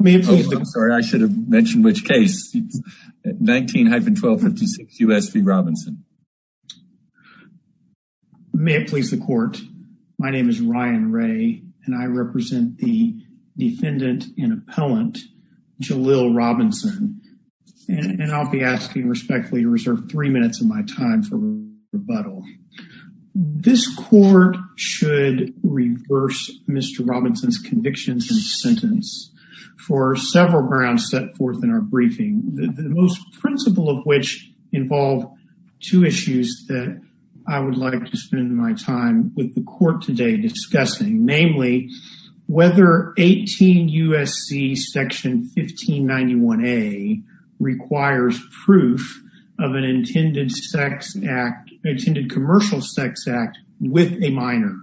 May it please the court, my name is Ryan Ray and I represent the defendant and appellant Jalil Robinson and I'll be asking respectfully to reserve three minutes of my time for rebuttal. This court should reverse Mr. Robinson's convictions and sentence for several grounds set forth in our briefing the most principle of which involve two issues that I would like to spend my time with the court today discussing namely whether 18 U.S.C. section 1591A requires proof of an intended sex act, intended commercial sex act with a minor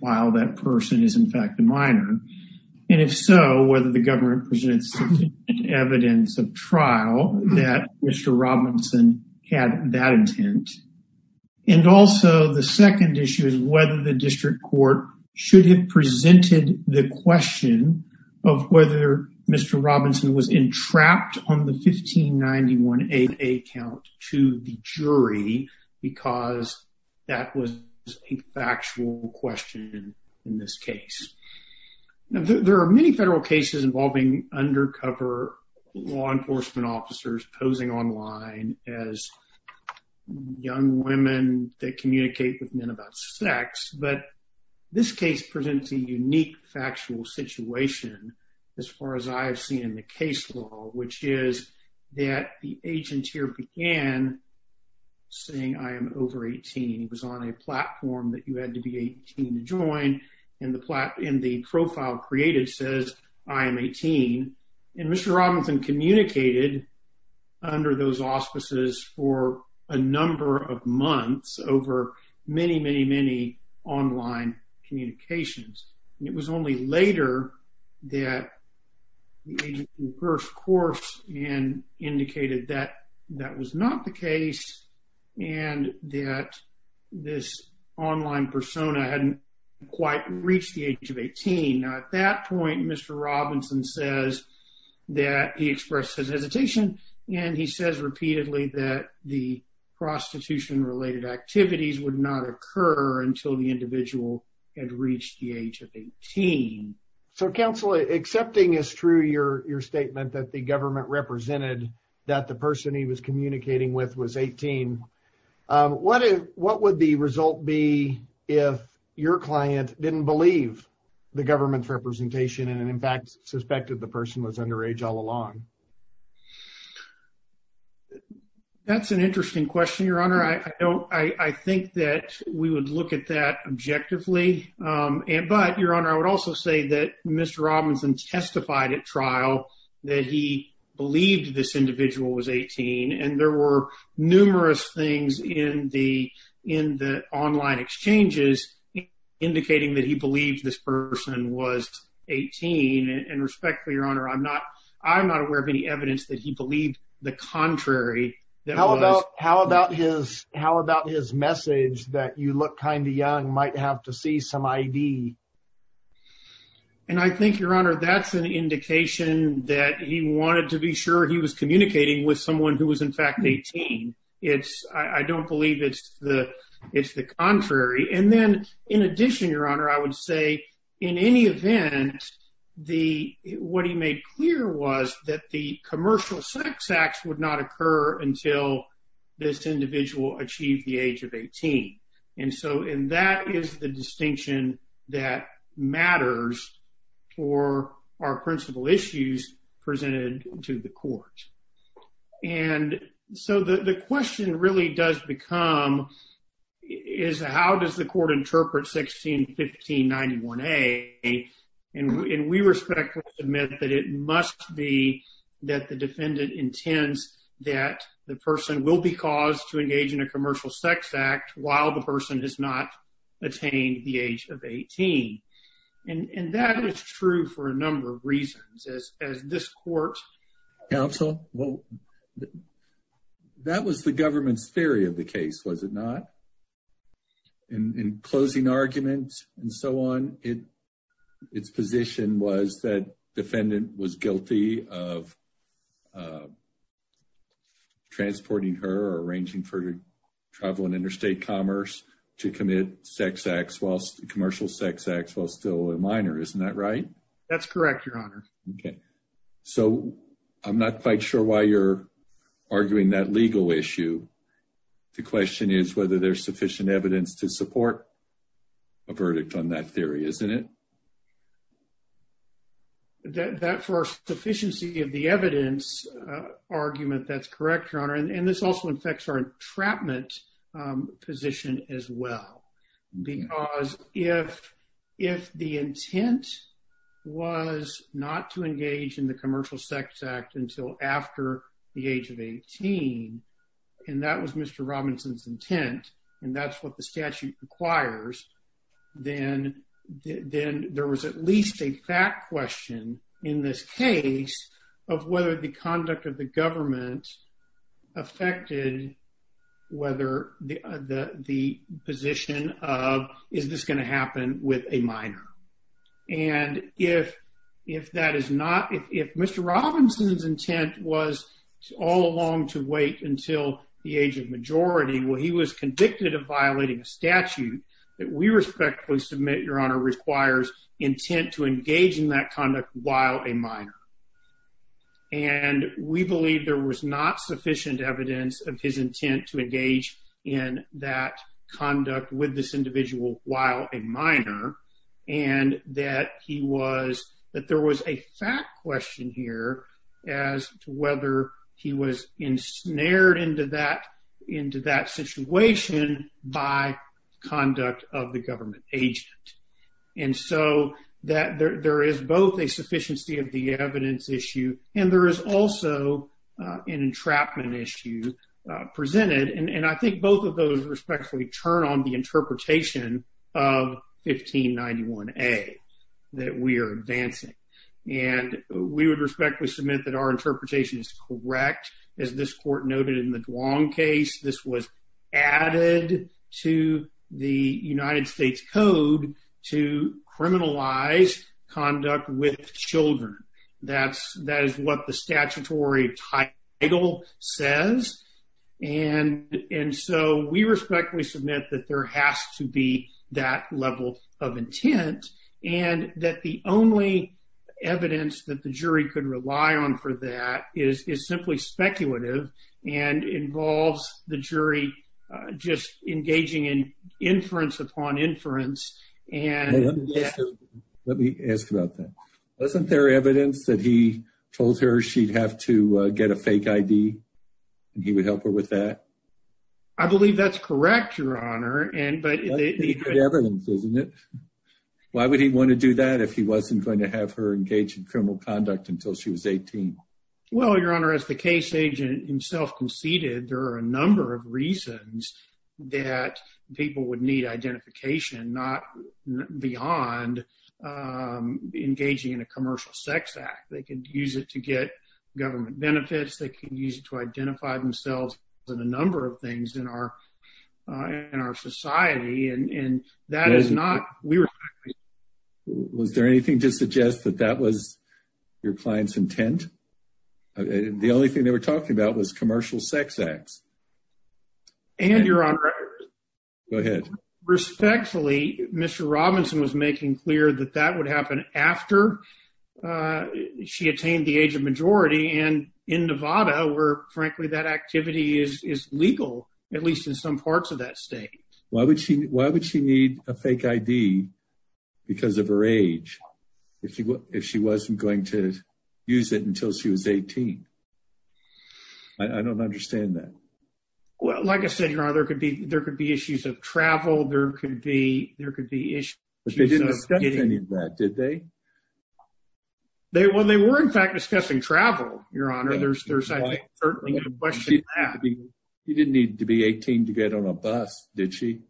while that person is in fact a minor and if so whether the government presents evidence of trial that Mr. Robinson had that intent and also the second issue is whether the district court should have presented the question of whether Mr. Robinson was entrapped on the 1591A account to the jury because that was a factual question in this case. There are many federal cases involving undercover law enforcement officers posing online as young women that communicate with men about sex but this case presents a unique factual situation as far as I have seen in the case law which is that the agent here began saying I am over 18 he was on a platform that you had to be 18 to join and the profile created says I am 18 and Mr. Robinson communicated under those auspices for a many many online communications. It was only later that the first course and indicated that that was not the case and that this online persona hadn't quite reached the age of 18. At that point Mr. Robinson says that he expressed his hesitation and he says repeatedly that the prostitution related activities would not occur until the individual had reached the age of 18. So counsel accepting is true your your statement that the government represented that the person he was communicating with was 18 what is what would the result be if your client didn't believe the government's representation and in fact suspected the person was underage all along? That's an interesting question your honor I don't I think that we would look at that objectively and but your honor I would also say that Mr. Robinson testified at trial that he believed this individual was 18 and there were numerous things in the in the online exchanges indicating that he believed this person was 18 and respectfully your honor I'm not I'm not aware of any evidence that he believed the contrary. How about how about his how about his message that you look kind of young might have to see some ID? And I think your honor that's an indication that he wanted to be sure he was communicating with someone who was in fact 18 it's I don't believe it's the it's the contrary and then in addition your honor I would say in any event the what he made clear was that the commercial sex acts would not occur until this individual achieved the age of 18 and so in that is the distinction that matters for our principal issues presented to the court and so the question really does become is how does the court interpret 1615 91a and we respectfully admit that it must be that the defendant intends that the person will be caused to engage in a commercial sex act while the person has not attained the age of 18 and that is true for a number of reasons as this court counsel well that was the government's theory of the case was it not in closing arguments and so on it its position was that defendant was guilty of transporting her arranging for travel and interstate commerce to commit sex acts whilst commercial sex acts while still a minor isn't that right that's correct your honor okay so I'm not quite sure why you're arguing that legal issue the it that for sufficiency of the evidence argument that's correct your honor and this also affects our entrapment position as well because if if the intent was not to engage in the commercial sex act until after the age of 18 and that was mr. Robinson's intent and that's what the statute requires then then there was at least a fact question in this case of whether the conduct of the government affected whether the the position of is this going to happen with a minor and if if that is not if mr. Robinson's intent was all along to wait until the age of majority well he was convicted of respectfully submit your honor requires intent to engage in that conduct while a minor and we believe there was not sufficient evidence of his intent to engage in that conduct with this individual while a minor and that he was that there was a fact question here as to whether he was ensnared into that situation by conduct of the government agent and so that there is both a sufficiency of the evidence issue and there is also an entrapment issue presented and I think both of those respectfully turn on the interpretation of 1591 a that we are advancing and we would respectfully submit that our this was added to the United States Code to criminalize conduct with children that's that is what the statutory title says and and so we respectfully submit that there has to be that level of intent and that the only evidence that the jury could rely on for that is simply speculative and involves the jury just engaging in inference upon inference and let me ask about that wasn't there evidence that he told her she'd have to get a fake ID and he would help her with that I believe that's correct your honor and but evidence isn't it why would he want to do that if he wasn't going to have her engaged in criminal conduct until she was 18 well your honor as the case agent himself conceded there are a number of reasons that people would need identification not beyond engaging in a commercial sex act they can use it to get government benefits they can use it to identify themselves with a number of things in our in our society and that is not we were was there anything to suggest that that was your clients intent the only thing they were talking about was commercial sex acts and your honor respectfully mr. Robinson was making clear that that would happen after she attained the age of majority and in Nevada where frankly that activity is legal at least in some parts of that state why would she why would she need a fake ID because of her age if she was if she was 18 I don't understand that well like I said your honor there could be there could be issues of travel there could be there could be issues did they they when they were in fact discussing travel your honor there's you didn't need to be 18 to get on a bus did she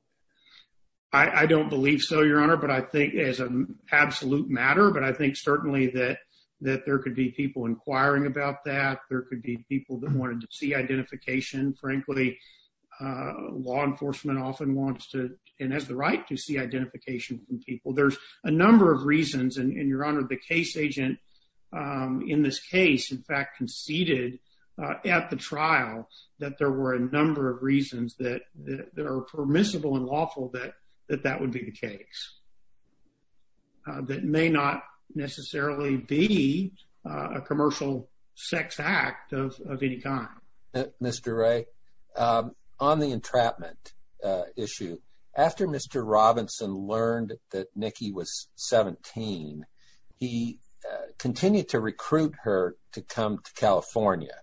I I don't believe so your honor but I think as an absolute matter but I think certainly that that there could be people inquiring about that there could be people that wanted to see identification frankly law enforcement often wants to and has the right to see identification from people there's a number of reasons and your honor the case agent in this case in fact conceded at the trial that there were a number of reasons that there are permissible and lawful that that that would be the case that may not necessarily be a commercial sex act of any kind mr. ray on the entrapment issue after mr. Robinson learned that Nikki was 17 he continued to recruit her to come to California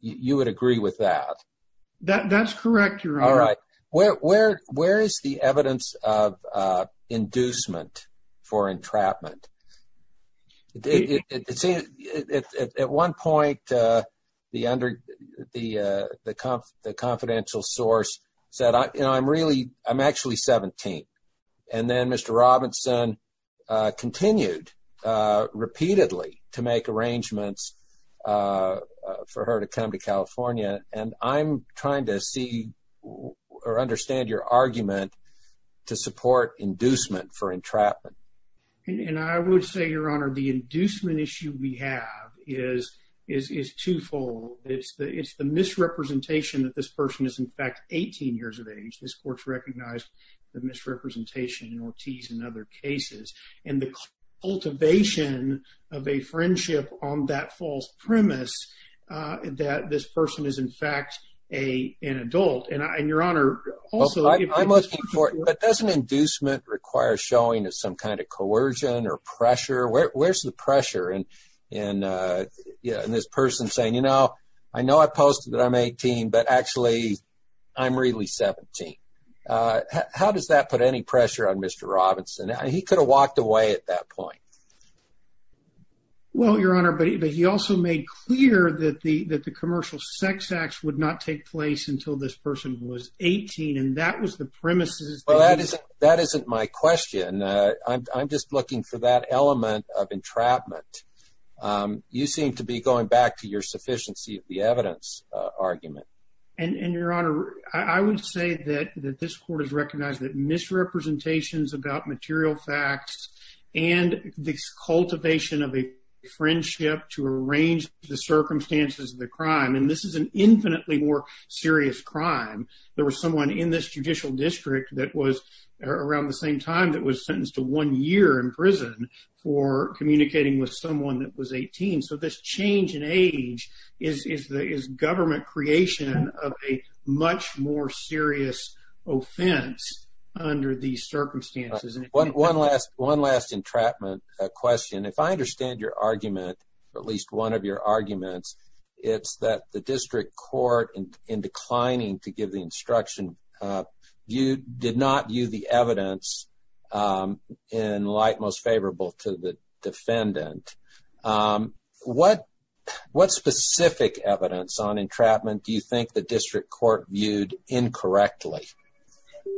you would agree with that that that's the evidence of inducement for entrapment it at one point the under the the confidential source said I you know I'm really I'm actually 17 and then mr. Robinson continued repeatedly to make arrangements for her to come to support inducement for entrapment and I would say your honor the inducement issue we have is is is twofold it's the it's the misrepresentation that this person is in fact 18 years of age this court's recognized the misrepresentation in Ortiz in other cases and the cultivation of a friendship on that false premise that this person is in fact a an adult and I and your honor also I must be for but doesn't inducement require showing as some kind of coercion or pressure where's the pressure and and yeah and this person saying you know I know I posted that I'm 18 but actually I'm really 17 how does that put any pressure on mr. Robinson he could have walked away at that point well your honor but he also made clear that the that the commercial sex acts would not take place until this person was 18 and that was the premises well that is that isn't my question I'm just looking for that element of entrapment you seem to be going back to your sufficiency of the evidence argument and in your honor I would say that that this court is recognized that misrepresentations about material facts and this cultivation of a friendship to arrange the circumstances of the crime and this is an infinitely more serious crime there was someone in this judicial district that was around the same time that was sentenced to one year in prison for communicating with someone that was 18 so this change in age is is the is government creation of a much more serious offense under these one last one last entrapment question if I understand your argument at least one of your arguments it's that the district court and in declining to give the instruction you did not view the evidence in light most favorable to the defendant what what specific evidence on entrapment do you think the district court viewed incorrectly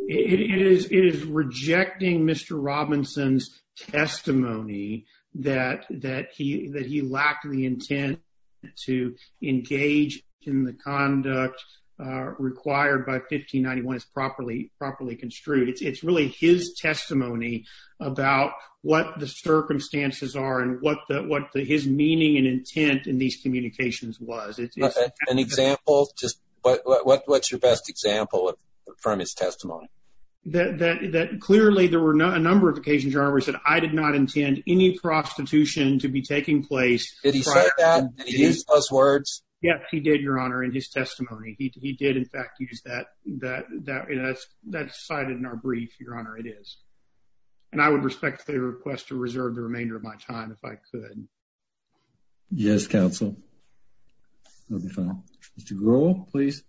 is rejecting mr. Robinson's testimony that that he that he lacked the intent to engage in the conduct required by 1591 is properly properly construed it's really his testimony about what the circumstances are and what that what the his meaning and intent in these communications was it's an example just what what what's your best example of his testimony that that clearly there were not a number of occasions I did not intend any prostitution to be taking place words yes he did your honor in his testimony he did in fact use that that that is that cited in our brief your honor it is and I would respect the request to reserve the remainder of my time if I could yes counsel to grow please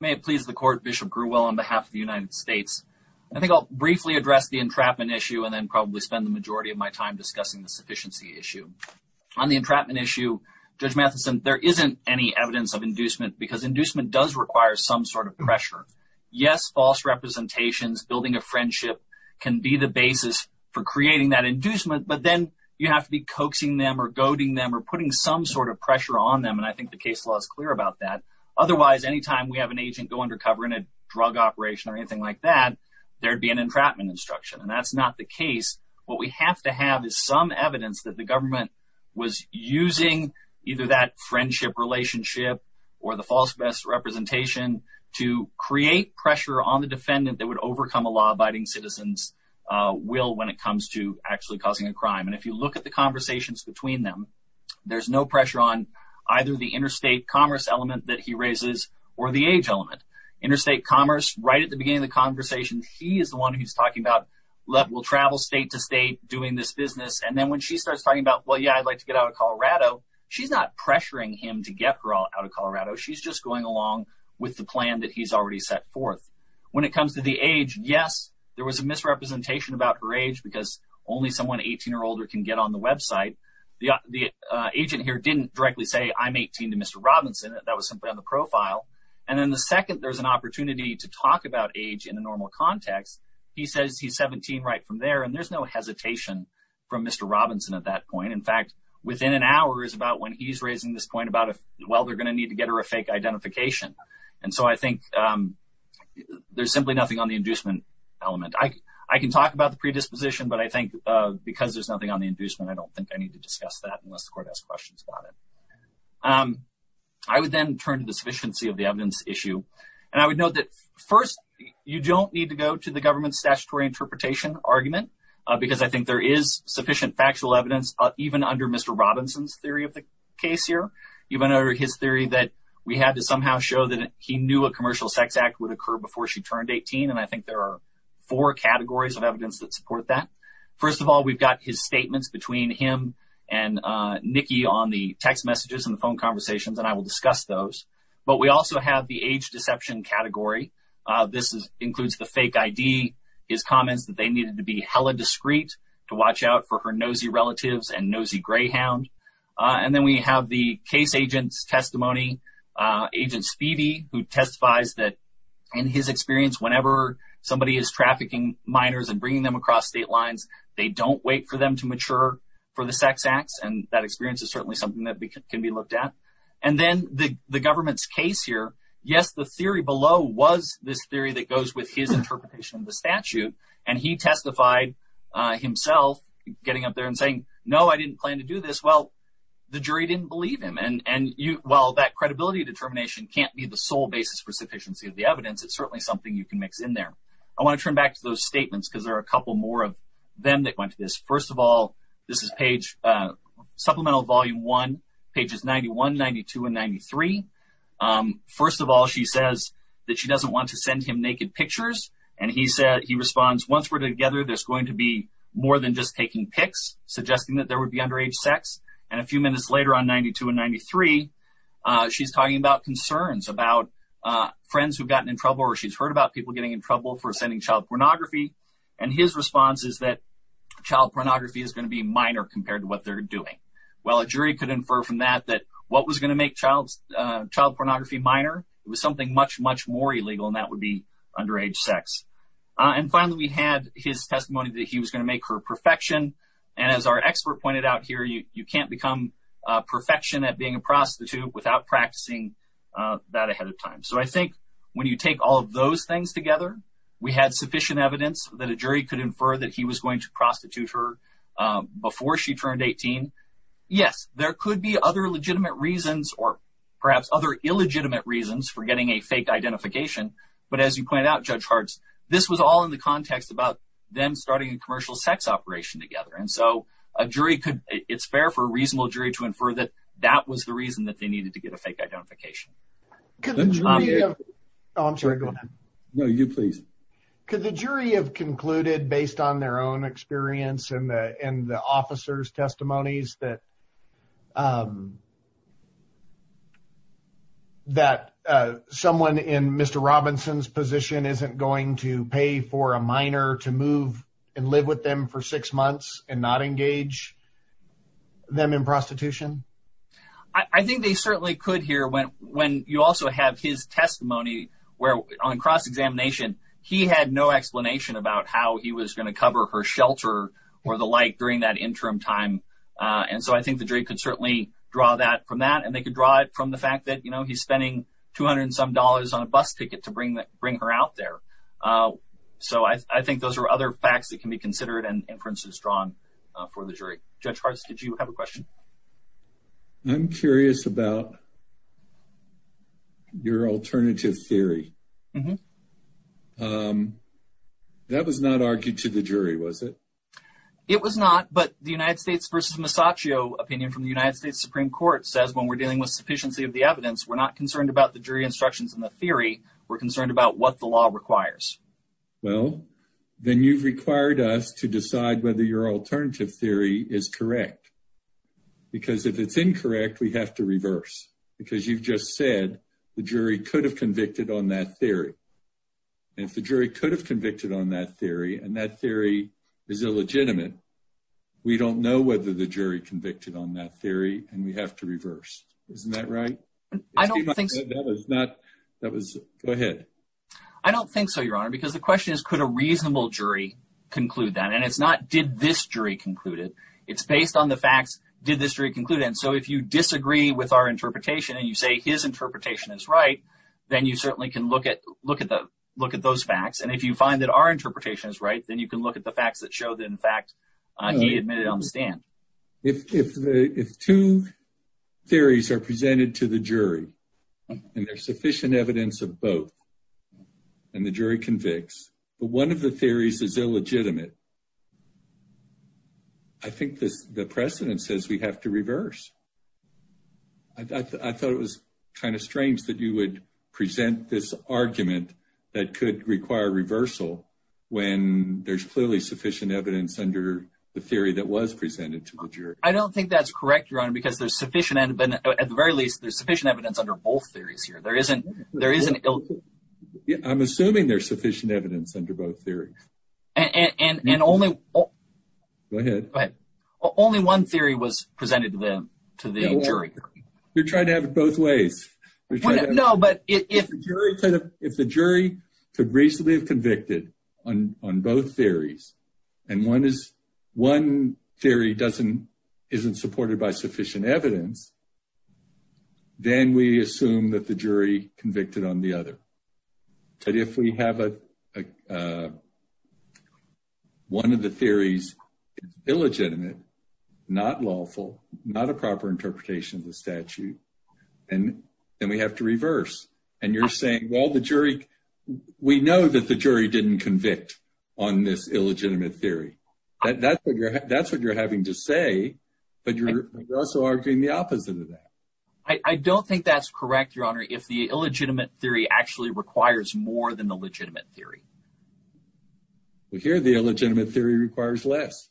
may please the court Bishop grew well on behalf of the United States I think I'll briefly address the entrapment issue and then probably spend the majority of my time discussing the sufficiency issue on the entrapment issue judge Matheson there isn't any evidence of inducement because inducement does require some sort of pressure yes false representations building a friendship can be the basis for creating that inducement but then you have to be coaxing them or goading them or putting some sort of pressure on them and I think the case law is clear about that otherwise anytime we have an agent go undercover in a drug operation or anything like that there'd be an entrapment instruction and that's not the case what we have to have is some evidence that the government was using either that friendship relationship or the false best representation to create pressure on the defendant that would overcome a law-abiding citizens will when it comes to actually causing a crime and if you look at the conversations between them there's no pressure on either the interstate commerce element that he raises or the age element interstate commerce right at the beginning of the conversation he is the one who's talking about love will travel state to state doing this business and then when she starts talking about well yeah I'd like to get out of Colorado she's not pressuring him to get her all out of Colorado she's just going along with the plan that he's already set forth when it comes to the age yes there was a misrepresentation about her age because only someone 18 year older can get on the website the agent here didn't directly say I'm 18 to mr. Robinson that was simply on the profile and then the second there's an opportunity to talk about age in a normal context he says he's 17 right from there and there's no hesitation from mr. Robinson at that point in fact within an hour is about when he's raising this point about if well they're gonna need to get her a fake identification and so I think there's element I can talk about the predisposition but I think because there's nothing on the inducement I don't think I need to discuss that unless the court has questions about it I would then turn to the sufficiency of the evidence issue and I would note that first you don't need to go to the government statutory interpretation argument because I think there is sufficient factual evidence even under mr. Robinson's theory of the case here you've been over his theory that we had to somehow show that he knew a there are four categories of evidence that support that first of all we've got his statements between him and Nikki on the text messages and the phone conversations and I will discuss those but we also have the age deception category this is includes the fake ID his comments that they needed to be hella discreet to watch out for her nosy relatives and nosy Greyhound and then we have the case agents testimony agent speedy who testifies that in his experience whenever somebody is trafficking minors and bringing them across state lines they don't wait for them to mature for the sex acts and that experience is certainly something that can be looked at and then the government's case here yes the theory below was this theory that goes with his interpretation of the statute and he testified himself getting up there and saying no I didn't plan to do this well the jury didn't believe him and and you well that credibility determination can't be the sole basis for sufficiency of the evidence it's certainly something you can mix in there I want to turn back to those statements because there are a couple more of them that went to this first of all this is page supplemental volume 1 pages 91 92 and 93 first of all she says that she doesn't want to send him naked pictures and he said he responds once we're together there's going to be more than just taking pics suggesting that there would be underage sex and a few minutes later on 92 and 93 she's talking about concerns about friends who've gotten in trouble or she's heard about people getting in trouble for sending child pornography and his response is that child pornography is going to be minor compared to what they're doing well a jury could infer from that that what was going to make child child pornography minor it was something much much more illegal and that would be underage sex and finally we had his testimony that he was going to make her perfection and as our expert pointed out here you can't become perfection at being a prostitute without practicing that ahead of time so I think when you take all of those things together we had sufficient evidence that a jury could infer that he was going to prostitute her before she turned 18 yes there could be other legitimate reasons or perhaps other illegitimate reasons for getting a fake identification but as you point out judge hearts this was all in the context about them starting a commercial sex operation together and so a jury could it's fair for a reasonable jury to infer that that was the reason that they needed to get a fake identification could the jury of concluded based on their own experience and the officers testimonies that that someone in mr. Robinson's position isn't going to pay for a minor to move and live with them for six months and not engage them in prostitution I think they certainly could hear when when you also have his testimony where on cross-examination he had no explanation about how he was going to cover her shelter or the like during that interim time and so I think the jury could certainly draw that from that and they could drive from the fact that you know he's spending two hundred some dollars on a bus ticket to bring that bring her out there so I think those are other facts that can be considered and inferences drawn for the jury judge hearts did you have a question I'm curious about your alternative theory that was not argued to the jury was it it was not but the United States vs. Masaccio opinion from the United States Supreme Court says when we're dealing with sufficiency of the evidence we're not concerned about the jury instructions in the theory we're concerned about what the law requires well then you've required us to decide whether your alternative theory is correct because if it's incorrect we have to reverse because you've just said the jury could have convicted on that theory and if the jury could have convicted on that theory and that theory is illegitimate we don't know whether the jury convicted on that theory and we I don't think so your honor because the question is could a reasonable jury conclude that and it's not did this jury concluded it's based on the facts did this jury concluded and so if you disagree with our interpretation and you say his interpretation is right then you certainly can look at look at the look at those facts and if you find that our interpretation is right then you can look at the facts that show that in fact he admitted on the stand if two theories are presented to the jury and there's sufficient evidence of both and the jury convicts but one of the theories is illegitimate I think this the precedent says we have to reverse I thought it was kind of strange that you would present this argument that could require reversal when there's clearly sufficient evidence under the theory that was presented to the jury I don't think that's correct your honor because there's sufficient and been at the very least there's sufficient evidence under both theories here there isn't there is an ill yeah I'm assuming there's sufficient evidence under both theories and and and only oh go ahead but only one theory was presented to them to the jury you're trying to have it both ways no but if the jury could have if the jury could recently have convicted on on both theories and one is one theory doesn't isn't supported by sufficient evidence then we assume that the jury convicted on the other but if we have a one of the theories illegitimate not lawful not a proper interpretation of the statute and then we have to reverse and you're saying well the jury we know that the jury didn't convict on this having to say but you're also arguing the opposite of that I don't think that's correct your honor if the illegitimate theory actually requires more than the legitimate theory we hear the illegitimate theory requires less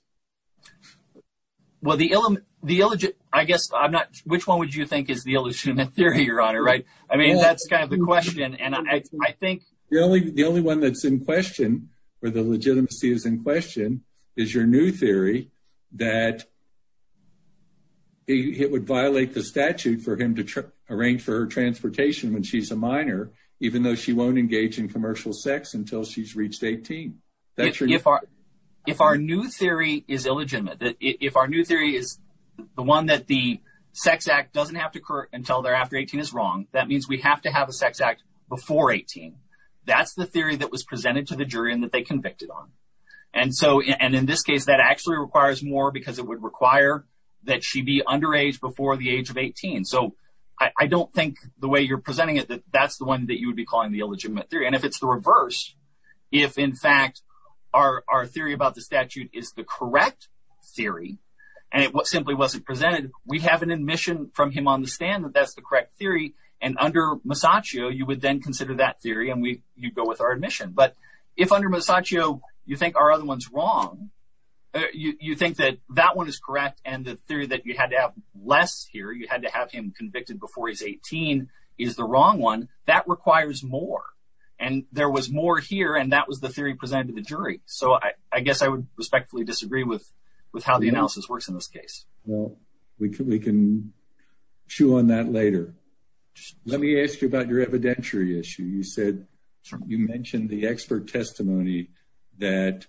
well the element the illegit I guess I'm not which one would you think is the illegitimate theory your honor right I mean that's kind of the question and I think the only the only one that's in question where the legitimacy is in is your new theory that it would violate the statute for him to arrange for her transportation when she's a minor even though she won't engage in commercial sex until she's reached 18 that's really if our if our new theory is illegitimate that if our new theory is the one that the sex act doesn't have to occur until thereafter 18 is wrong that means we have to have a sex act before 18 that's the theory that was presented to the jury and that they convicted on and so and in this case that actually requires more because it would require that she be underage before the age of 18 so I don't think the way you're presenting it that that's the one that you would be calling the illegitimate theory and if it's the reverse if in fact our theory about the statute is the correct theory and it was simply wasn't presented we have an admission from him on the stand that that's the correct theory and under Masaccio you would then consider that theory and we you go with our admission but if under Masaccio you think our other ones wrong you think that that one is correct and the theory that you had to have less here you had to have him convicted before he's 18 is the wrong one that requires more and there was more here and that was the theory presented to the jury so I I guess I would respectfully disagree with with how the analysis works in this case well we can we can chew on that later let me ask you about your evidentiary issue you said you mentioned the expert testimony that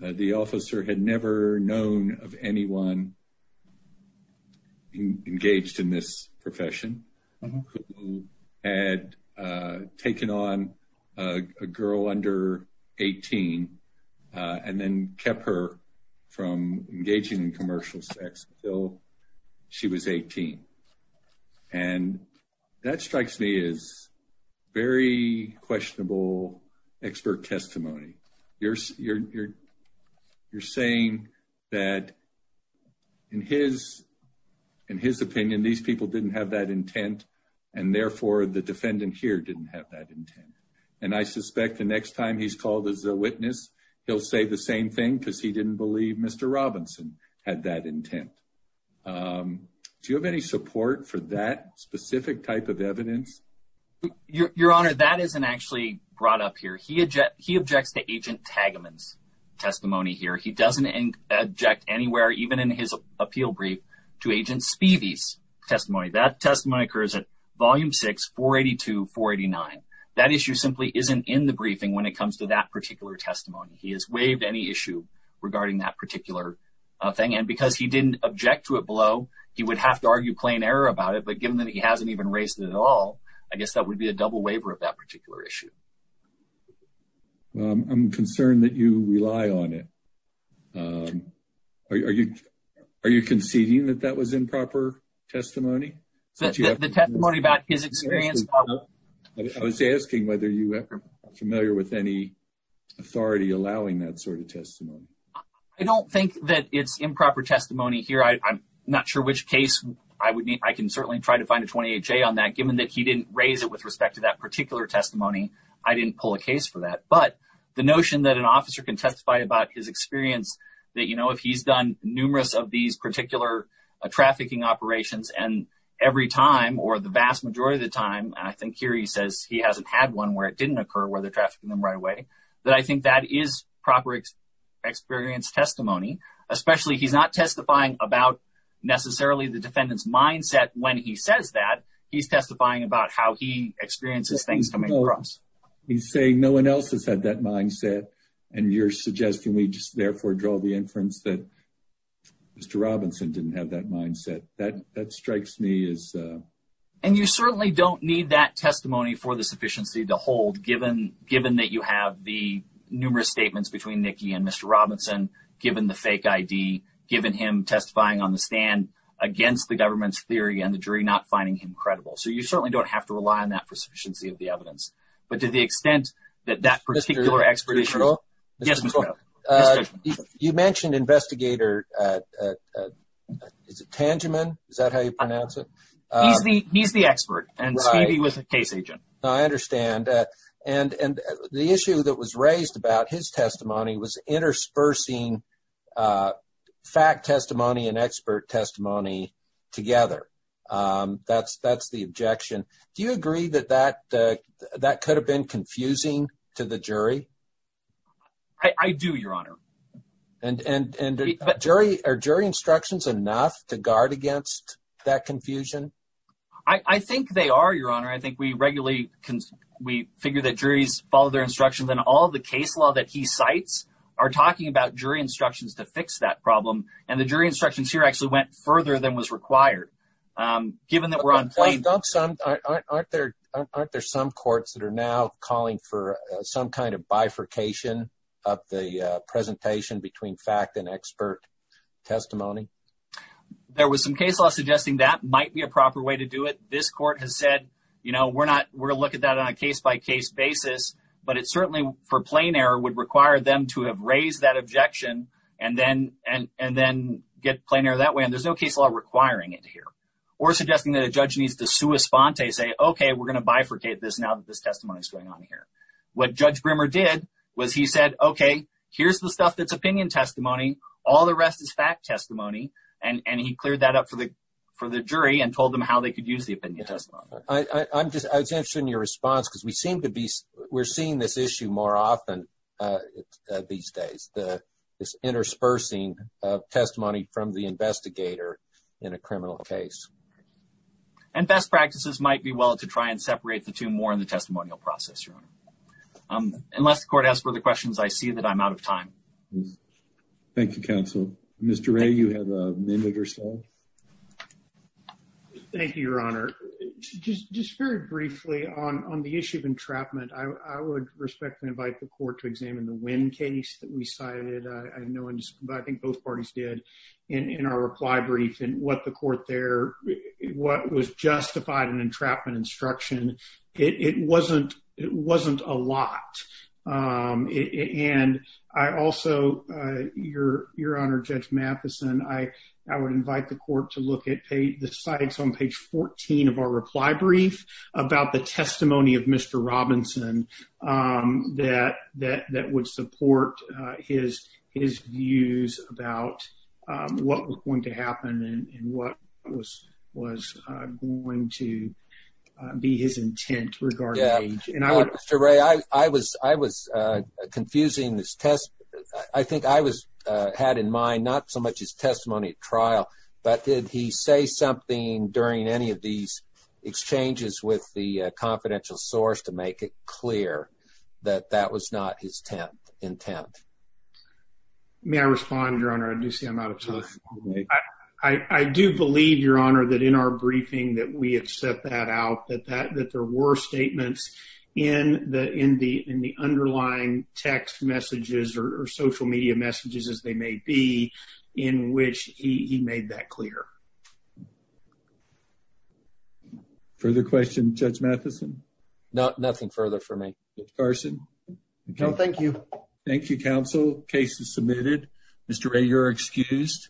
the officer had never known of anyone engaged in this profession who had taken on a girl under 18 and then kept her from engaging in commercial sex until she was 18 and that strikes me as very questionable expert testimony you're you're you're saying that in his in his opinion these people didn't have that intent and therefore the defendant here didn't have that intent and I suspect the next time he's called as a witness he'll say the same thing because he didn't believe mr. Robinson had that your honor that isn't actually brought up here he had jet he objects to agent tag amends testimony here he doesn't inject anywhere even in his appeal brief to agent Stevie's testimony that testimony occurs at volume 648 2489 that issue simply isn't in the briefing when it comes to that particular testimony he has waived any issue regarding that particular thing and because he didn't object to it below he would have to argue plain error about it but given that he hasn't even raised it at all I guess that would be a double waiver of that particular issue I'm concerned that you rely on it are you are you conceding that that was improper testimony the testimony about his experience I was asking whether you ever familiar with any authority allowing that sort of testimony I don't think that it's improper testimony here I'm not sure which case I would need I can certainly try to find a 28 J on that given that he didn't raise it with respect to that particular testimony I didn't pull a case for that but the notion that an officer can testify about his experience that you know if he's done numerous of these particular trafficking operations and every time or the vast majority of the time I think here he says he hasn't had one where it didn't occur where they're trafficking them right away that I think that is proper experience testimony especially he's not testifying about necessarily the defendants mindset when he says that he's testifying about how he experiences things coming across he's saying no one else has had that mindset and you're suggesting we just therefore draw the inference that mr. Robinson didn't have that mindset that that strikes me as and you certainly don't need that testimony for the sufficiency to hold given given that you have the numerous statements between Nikki and mr. Robinson given the on the stand against the government's theory and the jury not finding him credible so you certainly don't have to rely on that for sufficiency of the evidence but to the extent that that particular expert is real yes you mentioned investigator is it tangible is that how you pronounce it he's the he's the expert and he was a case agent I understand and and the issue that was an expert testimony together that's that's the objection do you agree that that that could have been confusing to the jury I do your honor and and jury or jury instructions enough to guard against that confusion I I think they are your honor I think we regularly can we figure that jury's follow their instructions and all the case law that he cites are talking about jury instructions to fix that problem and the jury instructions here actually went further than was required given that we're on plane dump some aren't there aren't there some courts that are now calling for some kind of bifurcation of the presentation between fact and expert testimony there was some case law suggesting that might be a proper way to do it this court has said you know we're not we're look at that on a case-by-case basis but it's certainly for plain error would require them to have raised that objection and then and and then get plainer that way and there's no case law requiring it here or suggesting that a judge needs to sue a sponte say okay we're gonna bifurcate this now that this testimony is going on here what judge brimmer did was he said okay here's the stuff that's opinion testimony all the rest is fact testimony and and he cleared that up for the for the jury and told them how they could use the opinion testimony I'm just I was answering your response because we seem to be we're seeing this issue more often these days the this interspersing of testimony from the investigator in a criminal case and best practices might be well to try and separate the two more in the testimonial process your honor unless the court has further questions I see that I'm out of time Thank You counsel mr. a you have a respect and invite the court to examine the wind case that we cited I know and I think both parties did in our reply brief and what the court there what was justified in entrapment instruction it wasn't it wasn't a lot and I also your your honor judge Matheson I I would invite the court to look at pay the that that that would support his his views about what was going to happen and what was was going to be his intent regarding age and I would array I I was I was confusing this test I think I was had in mind not so much as testimony at trial but did he say something during any of these exchanges with the that that was not his 10th intent may I respond your honor I do see I'm out of time I do believe your honor that in our briefing that we have set that out that that that there were statements in the in the in the underlying text messages or social media messages as they may be in which he made that clear further question judge Matheson not nothing further for me Carson no thank you thank you counsel cases submitted mr. a you're excused